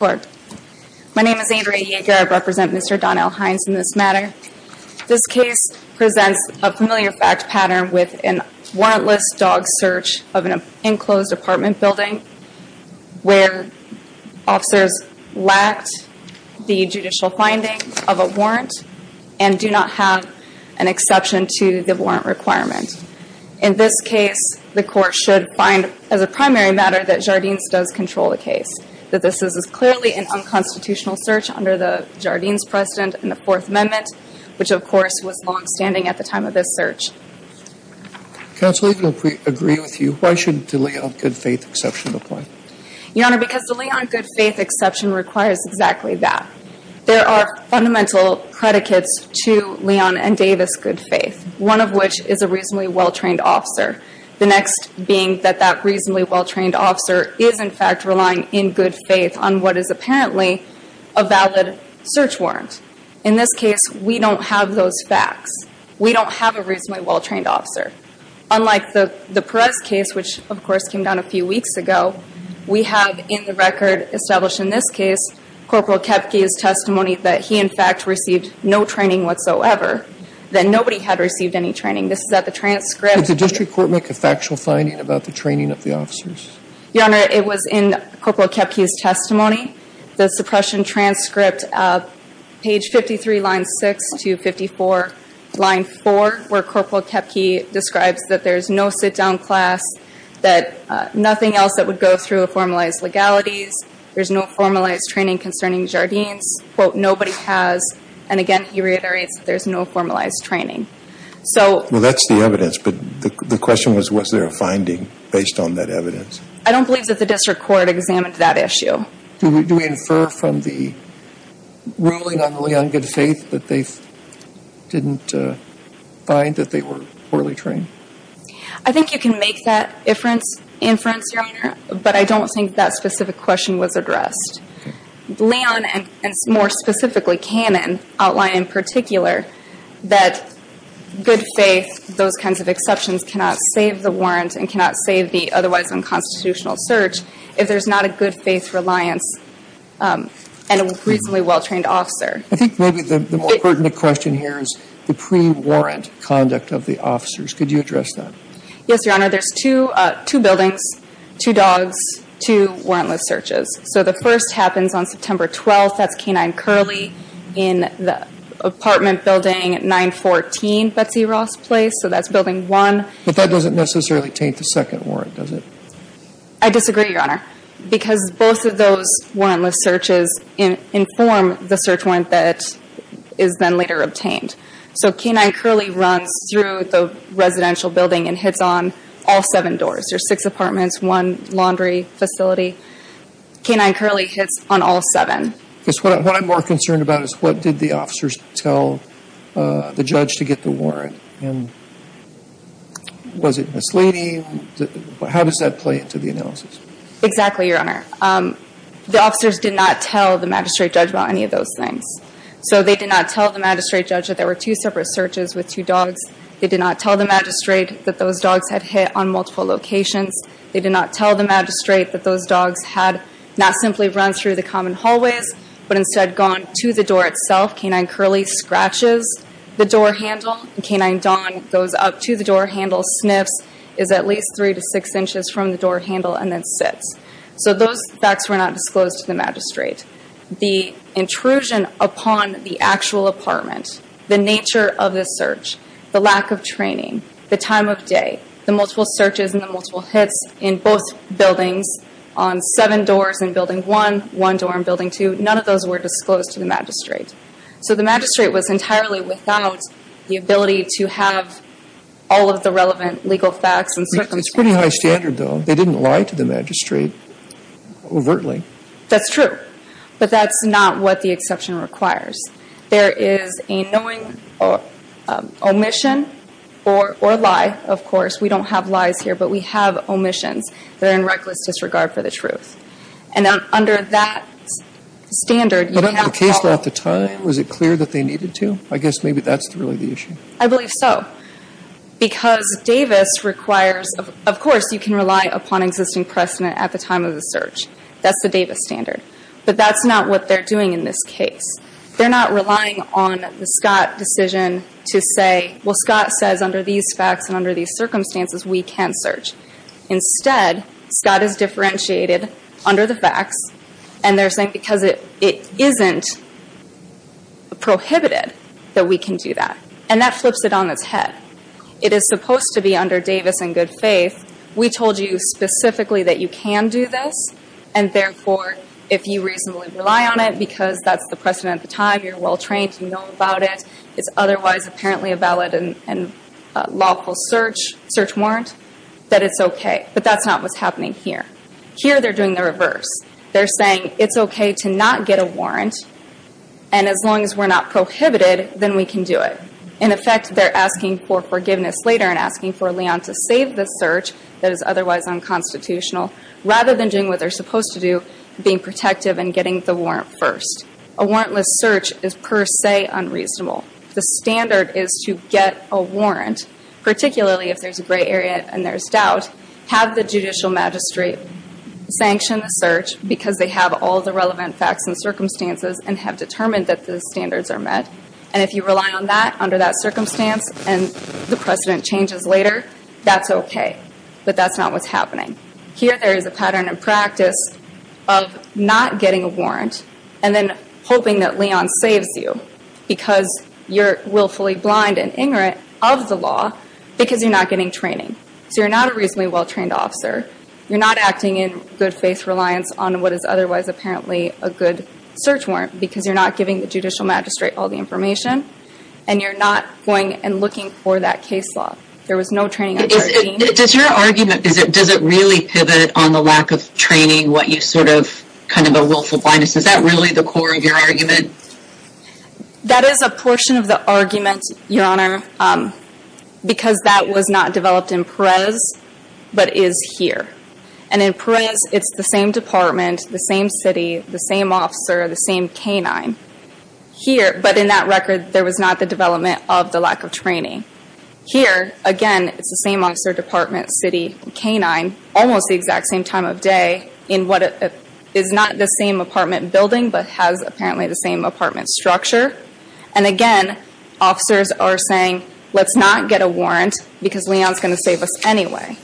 My name is Andrea Yeager. I represent Mr. Donell Hines in this matter. This case presents a familiar fact pattern with a warrantless dog search of an enclosed apartment building where officers lacked the judicial findings of a warrant and do not have an exception to the warrant requirement. In this case, the court should find, as a primary matter, that Jardines does control the case. That this is clearly an unconstitutional search under the Jardines precedent in the Fourth Amendment, which, of course, was longstanding at the time of this search. Counsel, if we agree with you, why should the Leon good faith exception apply? Your Honor, because the Leon good faith exception requires exactly that. There are fundamental predicates to Leon and Davis good faith, one of which is a reasonably well-trained officer. The next being that that reasonably well-trained officer is, in fact, relying in good faith on what is apparently a valid search warrant. In this case, we don't have those facts. We don't have a reasonably well-trained officer. Unlike the Perez case, which, of course, came down a few weeks ago, we have in the record established in this case Corporal Koepke's testimony that he, in fact, received no training whatsoever, that nobody had received any training. This is at the transcript. Did the district court make a factual finding about the training of the officers? Your Honor, it was in Corporal Koepke's testimony. The suppression transcript, page 53, line 6 to 54, line 4, where Corporal Koepke describes that there's no sit-down class, that nothing else that would go through formalized legalities. There's no formalized training concerning Jardines. Quote, nobody has. And, again, he reiterates that there's no formalized training. Well, that's the evidence, but the question was, was there a finding based on that evidence? I don't believe that the district court examined that issue. Do we infer from the ruling on Leon Goodfaith that they didn't find that they were poorly trained? I think you can make that inference, Your Honor, but I don't think that specific question was addressed. Leon, and more specifically Cannon, outline in particular that Goodfaith, those kinds of exceptions, cannot save the warrant and cannot save the otherwise unconstitutional search if there's not a Goodfaith reliance and a reasonably well-trained officer. I think maybe the more pertinent question here is the pre-warrant conduct of the officers. Could you address that? Yes, Your Honor. There's two buildings, two dogs, two warrantless searches. So the first happens on September 12th. That's K-9 Curley in the apartment building 914 Betsy Ross Place. So that's building 1. But that doesn't necessarily taint the second warrant, does it? I disagree, Your Honor, because both of those warrantless searches inform the search warrant that is then later obtained. So K-9 Curley runs through the residential building and hits on all seven doors. There's six apartments, one laundry facility. K-9 Curley hits on all seven. Because what I'm more concerned about is what did the officers tell the judge to get the warrant? And was it misleading? How does that play into the analysis? Exactly, Your Honor. The officers did not tell the magistrate judge about any of those things. So they did not tell the magistrate judge that there were two separate searches with two dogs. They did not tell the magistrate that those dogs had hit on multiple locations. They did not tell the magistrate that those dogs had not simply run through the common hallways, but instead gone to the door itself. K-9 Curley scratches the door handle. K-9 Dawn goes up to the door handle, sniffs, is at least three to six inches from the door handle, and then sits. So those facts were not disclosed to the magistrate. The intrusion upon the actual apartment, the nature of the search, the lack of training, the time of day, the multiple searches and the multiple hits in both buildings on seven doors in Building 1, one door in Building 2, none of those were disclosed to the magistrate. So the magistrate was entirely without the ability to have all of the relevant legal facts and circumstances. It's pretty high standard, though. They didn't lie to the magistrate overtly. That's true. But that's not what the exception requires. There is a knowing omission or lie, of course. We don't have lies here, but we have omissions that are in reckless disregard for the truth. And under that standard, you don't have to follow. But in the case law at the time, was it clear that they needed to? I guess maybe that's really the issue. I believe so. Because Davis requires, of course, you can rely upon existing precedent at the time of the search. That's the Davis standard. But that's not what they're doing in this case. They're not relying on the Scott decision to say, well, Scott says under these facts and under these circumstances, we can search. Instead, Scott is differentiated under the facts, and they're saying because it isn't prohibited that we can do that. And that flips it on its head. It is supposed to be under Davis in good faith. We told you specifically that you can do this. And, therefore, if you reasonably rely on it because that's the precedent at the time, you're well trained, you know about it, it's otherwise apparently a valid and lawful search warrant, that it's okay. But that's not what's happening here. Here they're doing the reverse. They're saying it's okay to not get a warrant, and as long as we're not prohibited, then we can do it. In effect, they're asking for forgiveness later and asking for Leon to save the search that is otherwise unconstitutional, rather than doing what they're supposed to do, being protective and getting the warrant first. A warrantless search is per se unreasonable. The standard is to get a warrant, particularly if there's a gray area and there's doubt, have the judicial magistrate sanction the search because they have all the relevant facts and circumstances and have determined that the standards are met. And if you rely on that under that circumstance and the precedent changes later, that's okay. But that's not what's happening. Here there is a pattern and practice of not getting a warrant and then hoping that Leon saves you because you're willfully blind and ignorant of the law because you're not getting training. So you're not a reasonably well-trained officer. You're not acting in good faith reliance on what is otherwise apparently a good search warrant because you're not giving the judicial magistrate all the information and you're not going and looking for that case law. There was no training. Does your argument, does it really pivot on the lack of training, what you sort of, kind of a willful blindness? Is that really the core of your argument? That is a portion of the argument, Your Honor, because that was not developed in Perez but is here. And in Perez it's the same department, the same city, the same officer, the same canine. Here, but in that record, there was not the development of the lack of training. Here, again, it's the same officer, department, city, canine, almost the exact same time of day in what is not the same apartment building but has apparently the same apartment structure. And again, officers are saying, let's not get a warrant because Leon is going to save us anyway.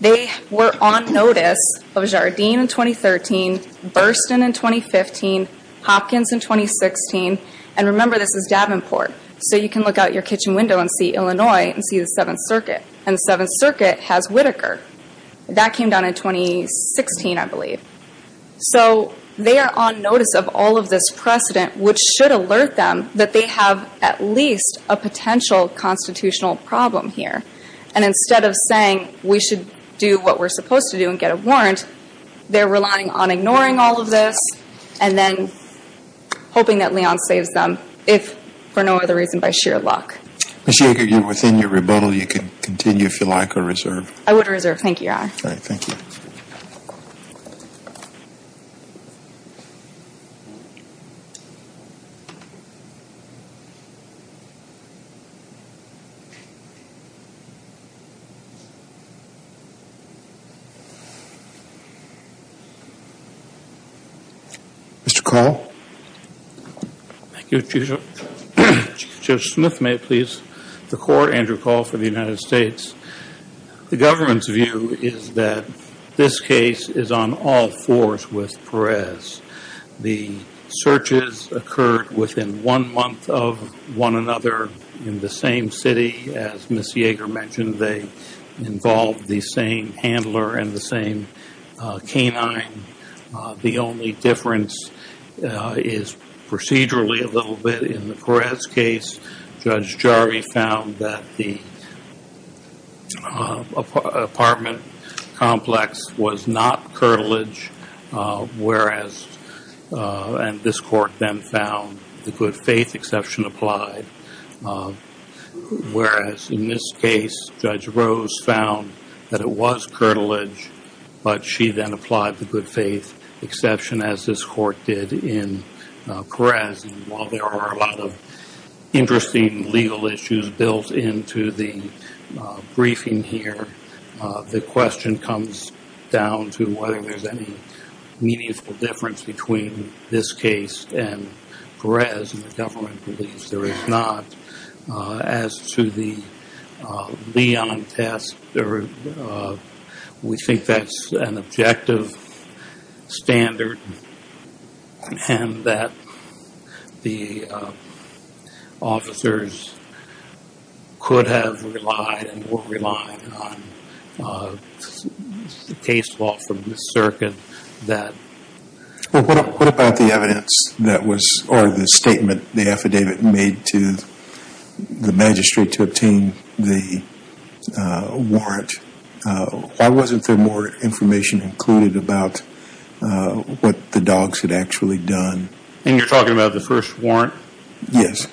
They were on notice of Jardine in 2013, Burston in 2015, Hopkins in 2016. And remember, this is Davenport, so you can look out your kitchen window and see Illinois and see the Seventh Circuit. And the Seventh Circuit has Whitaker. That came down in 2016, I believe. So they are on notice of all of this precedent, which should alert them that they have at least a potential constitutional problem here. And instead of saying, we should do what we're supposed to do and get a warrant, they're relying on ignoring all of this and then hoping that Leon saves them, if for no other reason by sheer luck. Ms. Yager, you're within your rebuttal. You can continue if you like or reserve. I would reserve. Thank you, Your Honor. All right, thank you. Mr. Call? Thank you, Judge. Judge Smith, may it please the Court? Andrew Call for the United States. The government's view is that this case is on all fours with Perez. The searches occurred within one month of one another in the same city as Ms. Yager mentioned. They involved the same handler and the same canine. The only difference is procedurally a little bit in the Perez case. Judge Jarvi found that the apartment complex was not curtilage, whereas, and this Court then found the good faith exception applied. Whereas, in this case, Judge Rose found that it was curtilage, but she then applied the good faith exception as this Court did in Perez. While there are a lot of interesting legal issues built into the briefing here, the question comes down to whether there's any meaningful difference between this case and Perez. And the government believes there is not. As to the Leon test, we think that's an objective standard and that the officers could have relied and were relying on the case law from the circuit. Well, what about the evidence that was, or the statement the affidavit made to the magistrate to obtain the warrant? Why wasn't there more information included about what the dogs had actually done? And you're talking about the first warrant? Yes.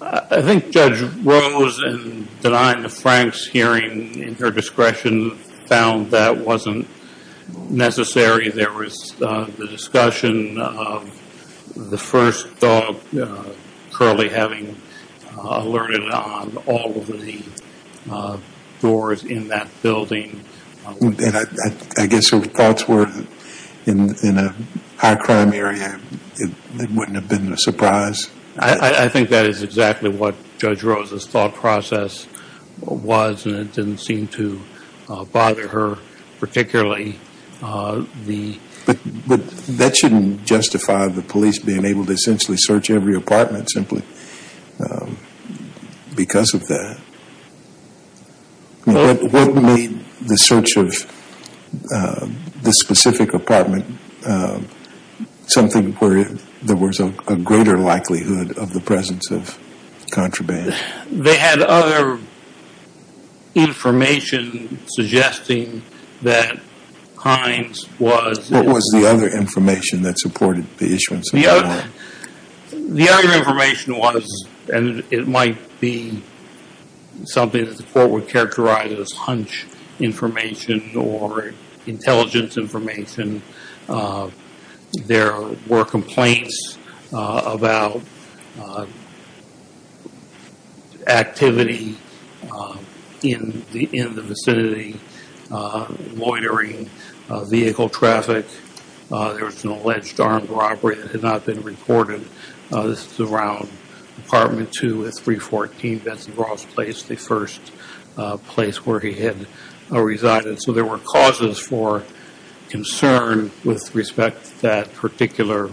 I think Judge Rose, in denying the Franks hearing in her discretion, found that wasn't necessary. There was the discussion of the first dog currently having alerted on all of the doors in that building. And I guess her thoughts were, in a high crime area, it wouldn't have been a surprise. I think that is exactly what Judge Rose's thought process was, and it didn't seem to bother her particularly. But that shouldn't justify the police being able to essentially search every apartment simply because of that. What made the search of this specific apartment something where there was a greater likelihood of the presence of contraband? They had other information suggesting that Hines was... What was the other information that supported the issuance of the warrant? The other information was, and it might be something that the court would characterize as hunch information or intelligence information. There were complaints about activity in the vicinity, loitering, vehicle traffic. There was an alleged armed robbery that had not been reported. This is around Apartment 2 at 314 Benson Ross Place, the first place where he had resided. So there were causes for concern with respect to that particular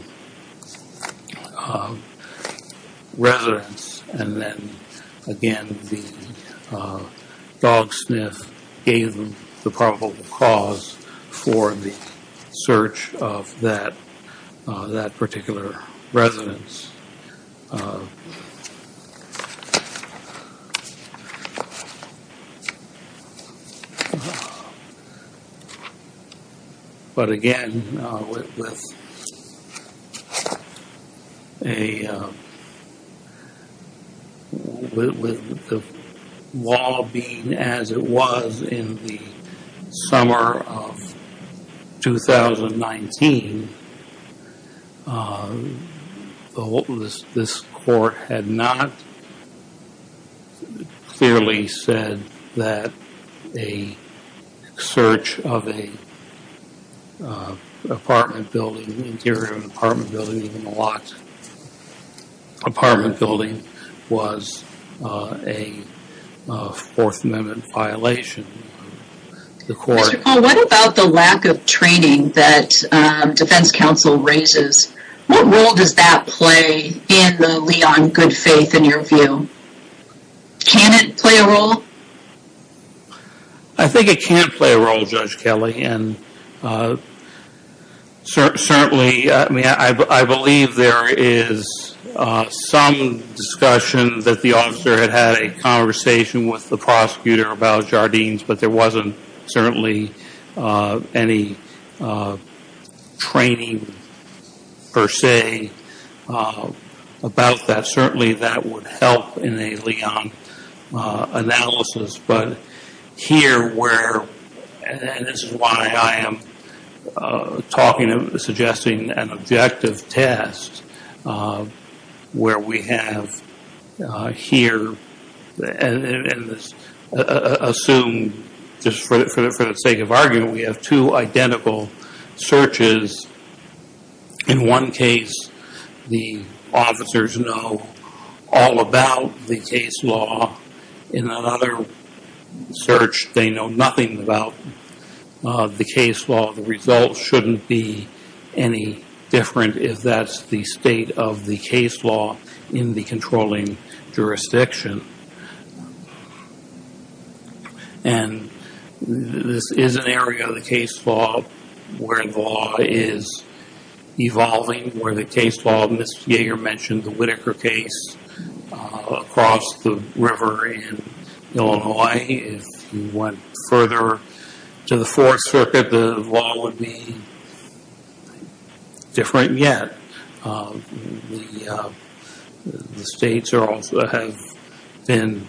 residence. And then, again, the dog sniff gave them the probable cause for the search of that particular residence. But again, with the law being as it was in the summer of 2019, this court had not clearly said that a search of an apartment building, the interior of an apartment building, even a locked apartment building, was a Fourth Amendment violation. Mr. Cole, what about the lack of training that defense counsel raises? What role does that play in the Leon good faith in your view? Can it play a role? I think it can play a role, Judge Kelly. Certainly, I believe there is some discussion that the officer had had a conversation with the prosecutor about Jardines, but there wasn't certainly any training per se about that. Certainly, that would help in a Leon analysis. But here where, and this is why I am suggesting an objective test, where we have here, and assume just for the sake of argument, we have two identical searches. In one case, the officers know all about the case law. In another search, they know nothing about the case law. The results shouldn't be any different if that's the state of the case law in the controlling jurisdiction. This is an area of the case law where the law is evolving, where the case law, Ms. Yeager mentioned the Whitaker case across the river in Illinois. If you went further to the Fourth Circuit, the law would be different yet. The states have been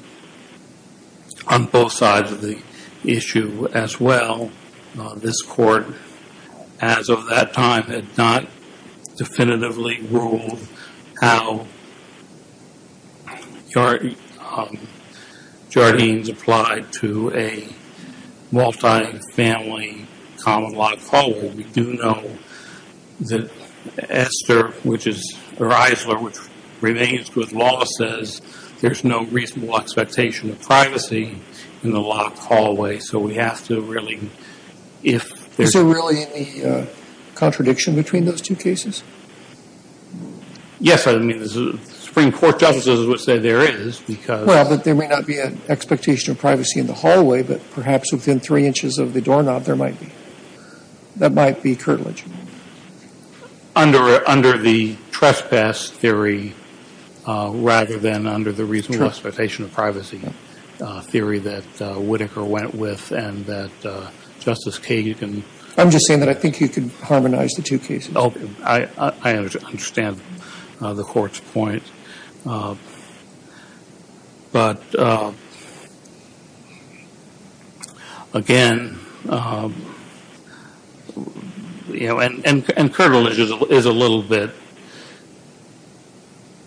on both sides of the issue as well. This court, as of that time, had not definitively ruled how Jardines applied to a multi-family common law code. We do know that Esther, which is the Riesler, which remains with Lawless, says there's no reasonable expectation of privacy in the locked hallway. So we have to really, if there's... Is there really any contradiction between those two cases? Yes, I mean, the Supreme Court justices would say there is, because... Well, but there may not be an expectation of privacy in the hallway, but perhaps within three inches of the doorknob, there might be. That might be curtilage. Under the trespass theory rather than under the reasonable expectation of privacy theory that Whitaker went with and that Justice Kagan... I'm just saying that I think you could harmonize the two cases. I understand the court's point. But, again, and curtilage is a little bit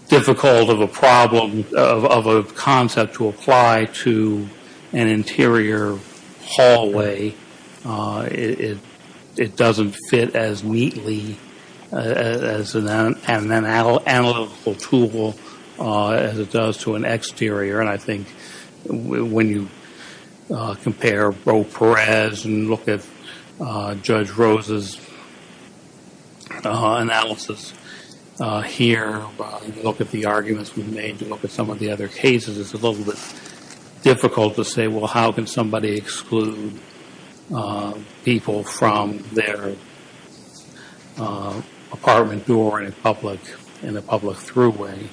difficult of a problem, of a concept to apply to an interior hallway. It doesn't fit as neatly as an analytical tool as it does to an exterior. And I think when you compare Beau Perez and look at Judge Rose's analysis here, look at the arguments we've made, look at some of the other cases, it's a little bit difficult to say, well, how can somebody exclude people from their apartment door in a public throughway?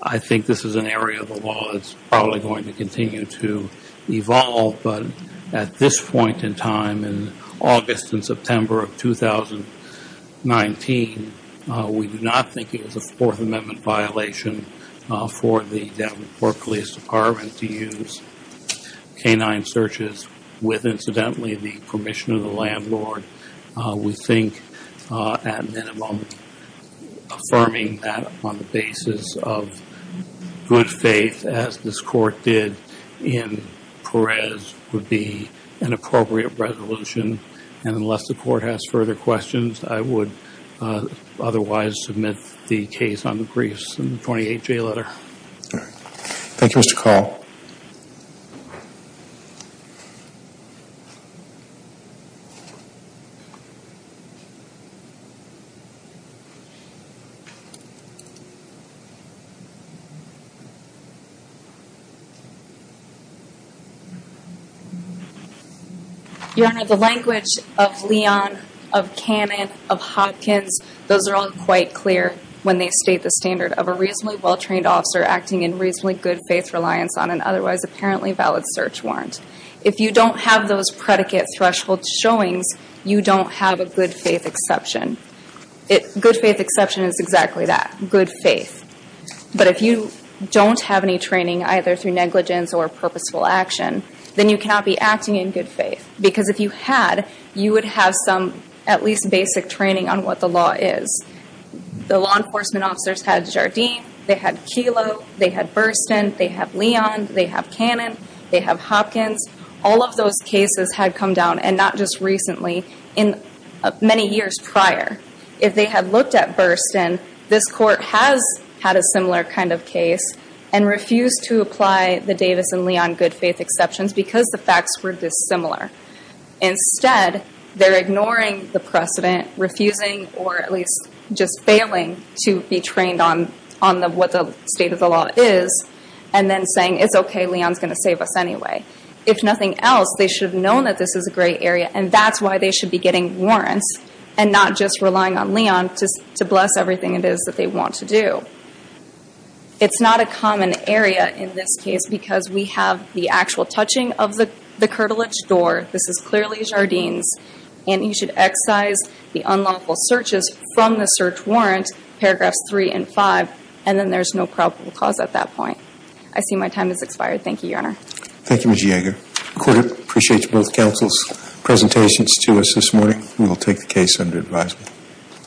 I think this is an area of the law that's probably going to continue to evolve. But at this point in time, in August and September of 2019, we do not think it was a Fourth Amendment violation for the Denver Police Department to use canine searches with, incidentally, the permission of the landlord. We think, at minimum, affirming that on the basis of good faith, as this court did in Perez, would be an appropriate resolution. And unless the court has further questions, I would otherwise submit the case on the briefs in the 28-J letter. Thank you, Mr. Carl. Your Honor, the language of Leon, of Cannon, of Hopkins, those are all quite clear when they state the standard of a reasonably well-trained officer acting in reasonably good faith reliance on an otherwise apparently valid search warrant. If you don't have those predicate threshold showings, you don't have a good faith exception. Good faith exception is exactly that, good faith. But if you don't have any training, either through negligence or purposeful action, then you cannot be acting in good faith. Because if you had, you would have some at least basic training on what the law is. The law enforcement officers had Jardim, they had Kelo, they had Burstin, they have Leon, they have Cannon, they have Hopkins. All of those cases had come down, and not just recently, many years prior. If they had looked at Burstin, this court has had a similar kind of case, and refused to apply the Davis and Leon good faith exceptions because the facts were dissimilar. Instead, they're ignoring the precedent, refusing, or at least just failing, to be trained on what the state of the law is, and then saying, it's okay, Leon's going to save us anyway. If nothing else, they should have known that this is a gray area, and that's why they should be getting warrants, and not just relying on Leon to bless everything it is that they want to do. It's not a common area in this case, because we have the actual touching of the curtilage door. This is clearly Jardim's, and you should excise the unlawful searches from the search warrant, paragraphs three and five, and then there's no probable cause at that point. I see my time has expired. Thank you, Your Honor. Thank you, Ms. Jaeger. The court appreciates both counsel's presentations to us this morning. We will take the case under advisement.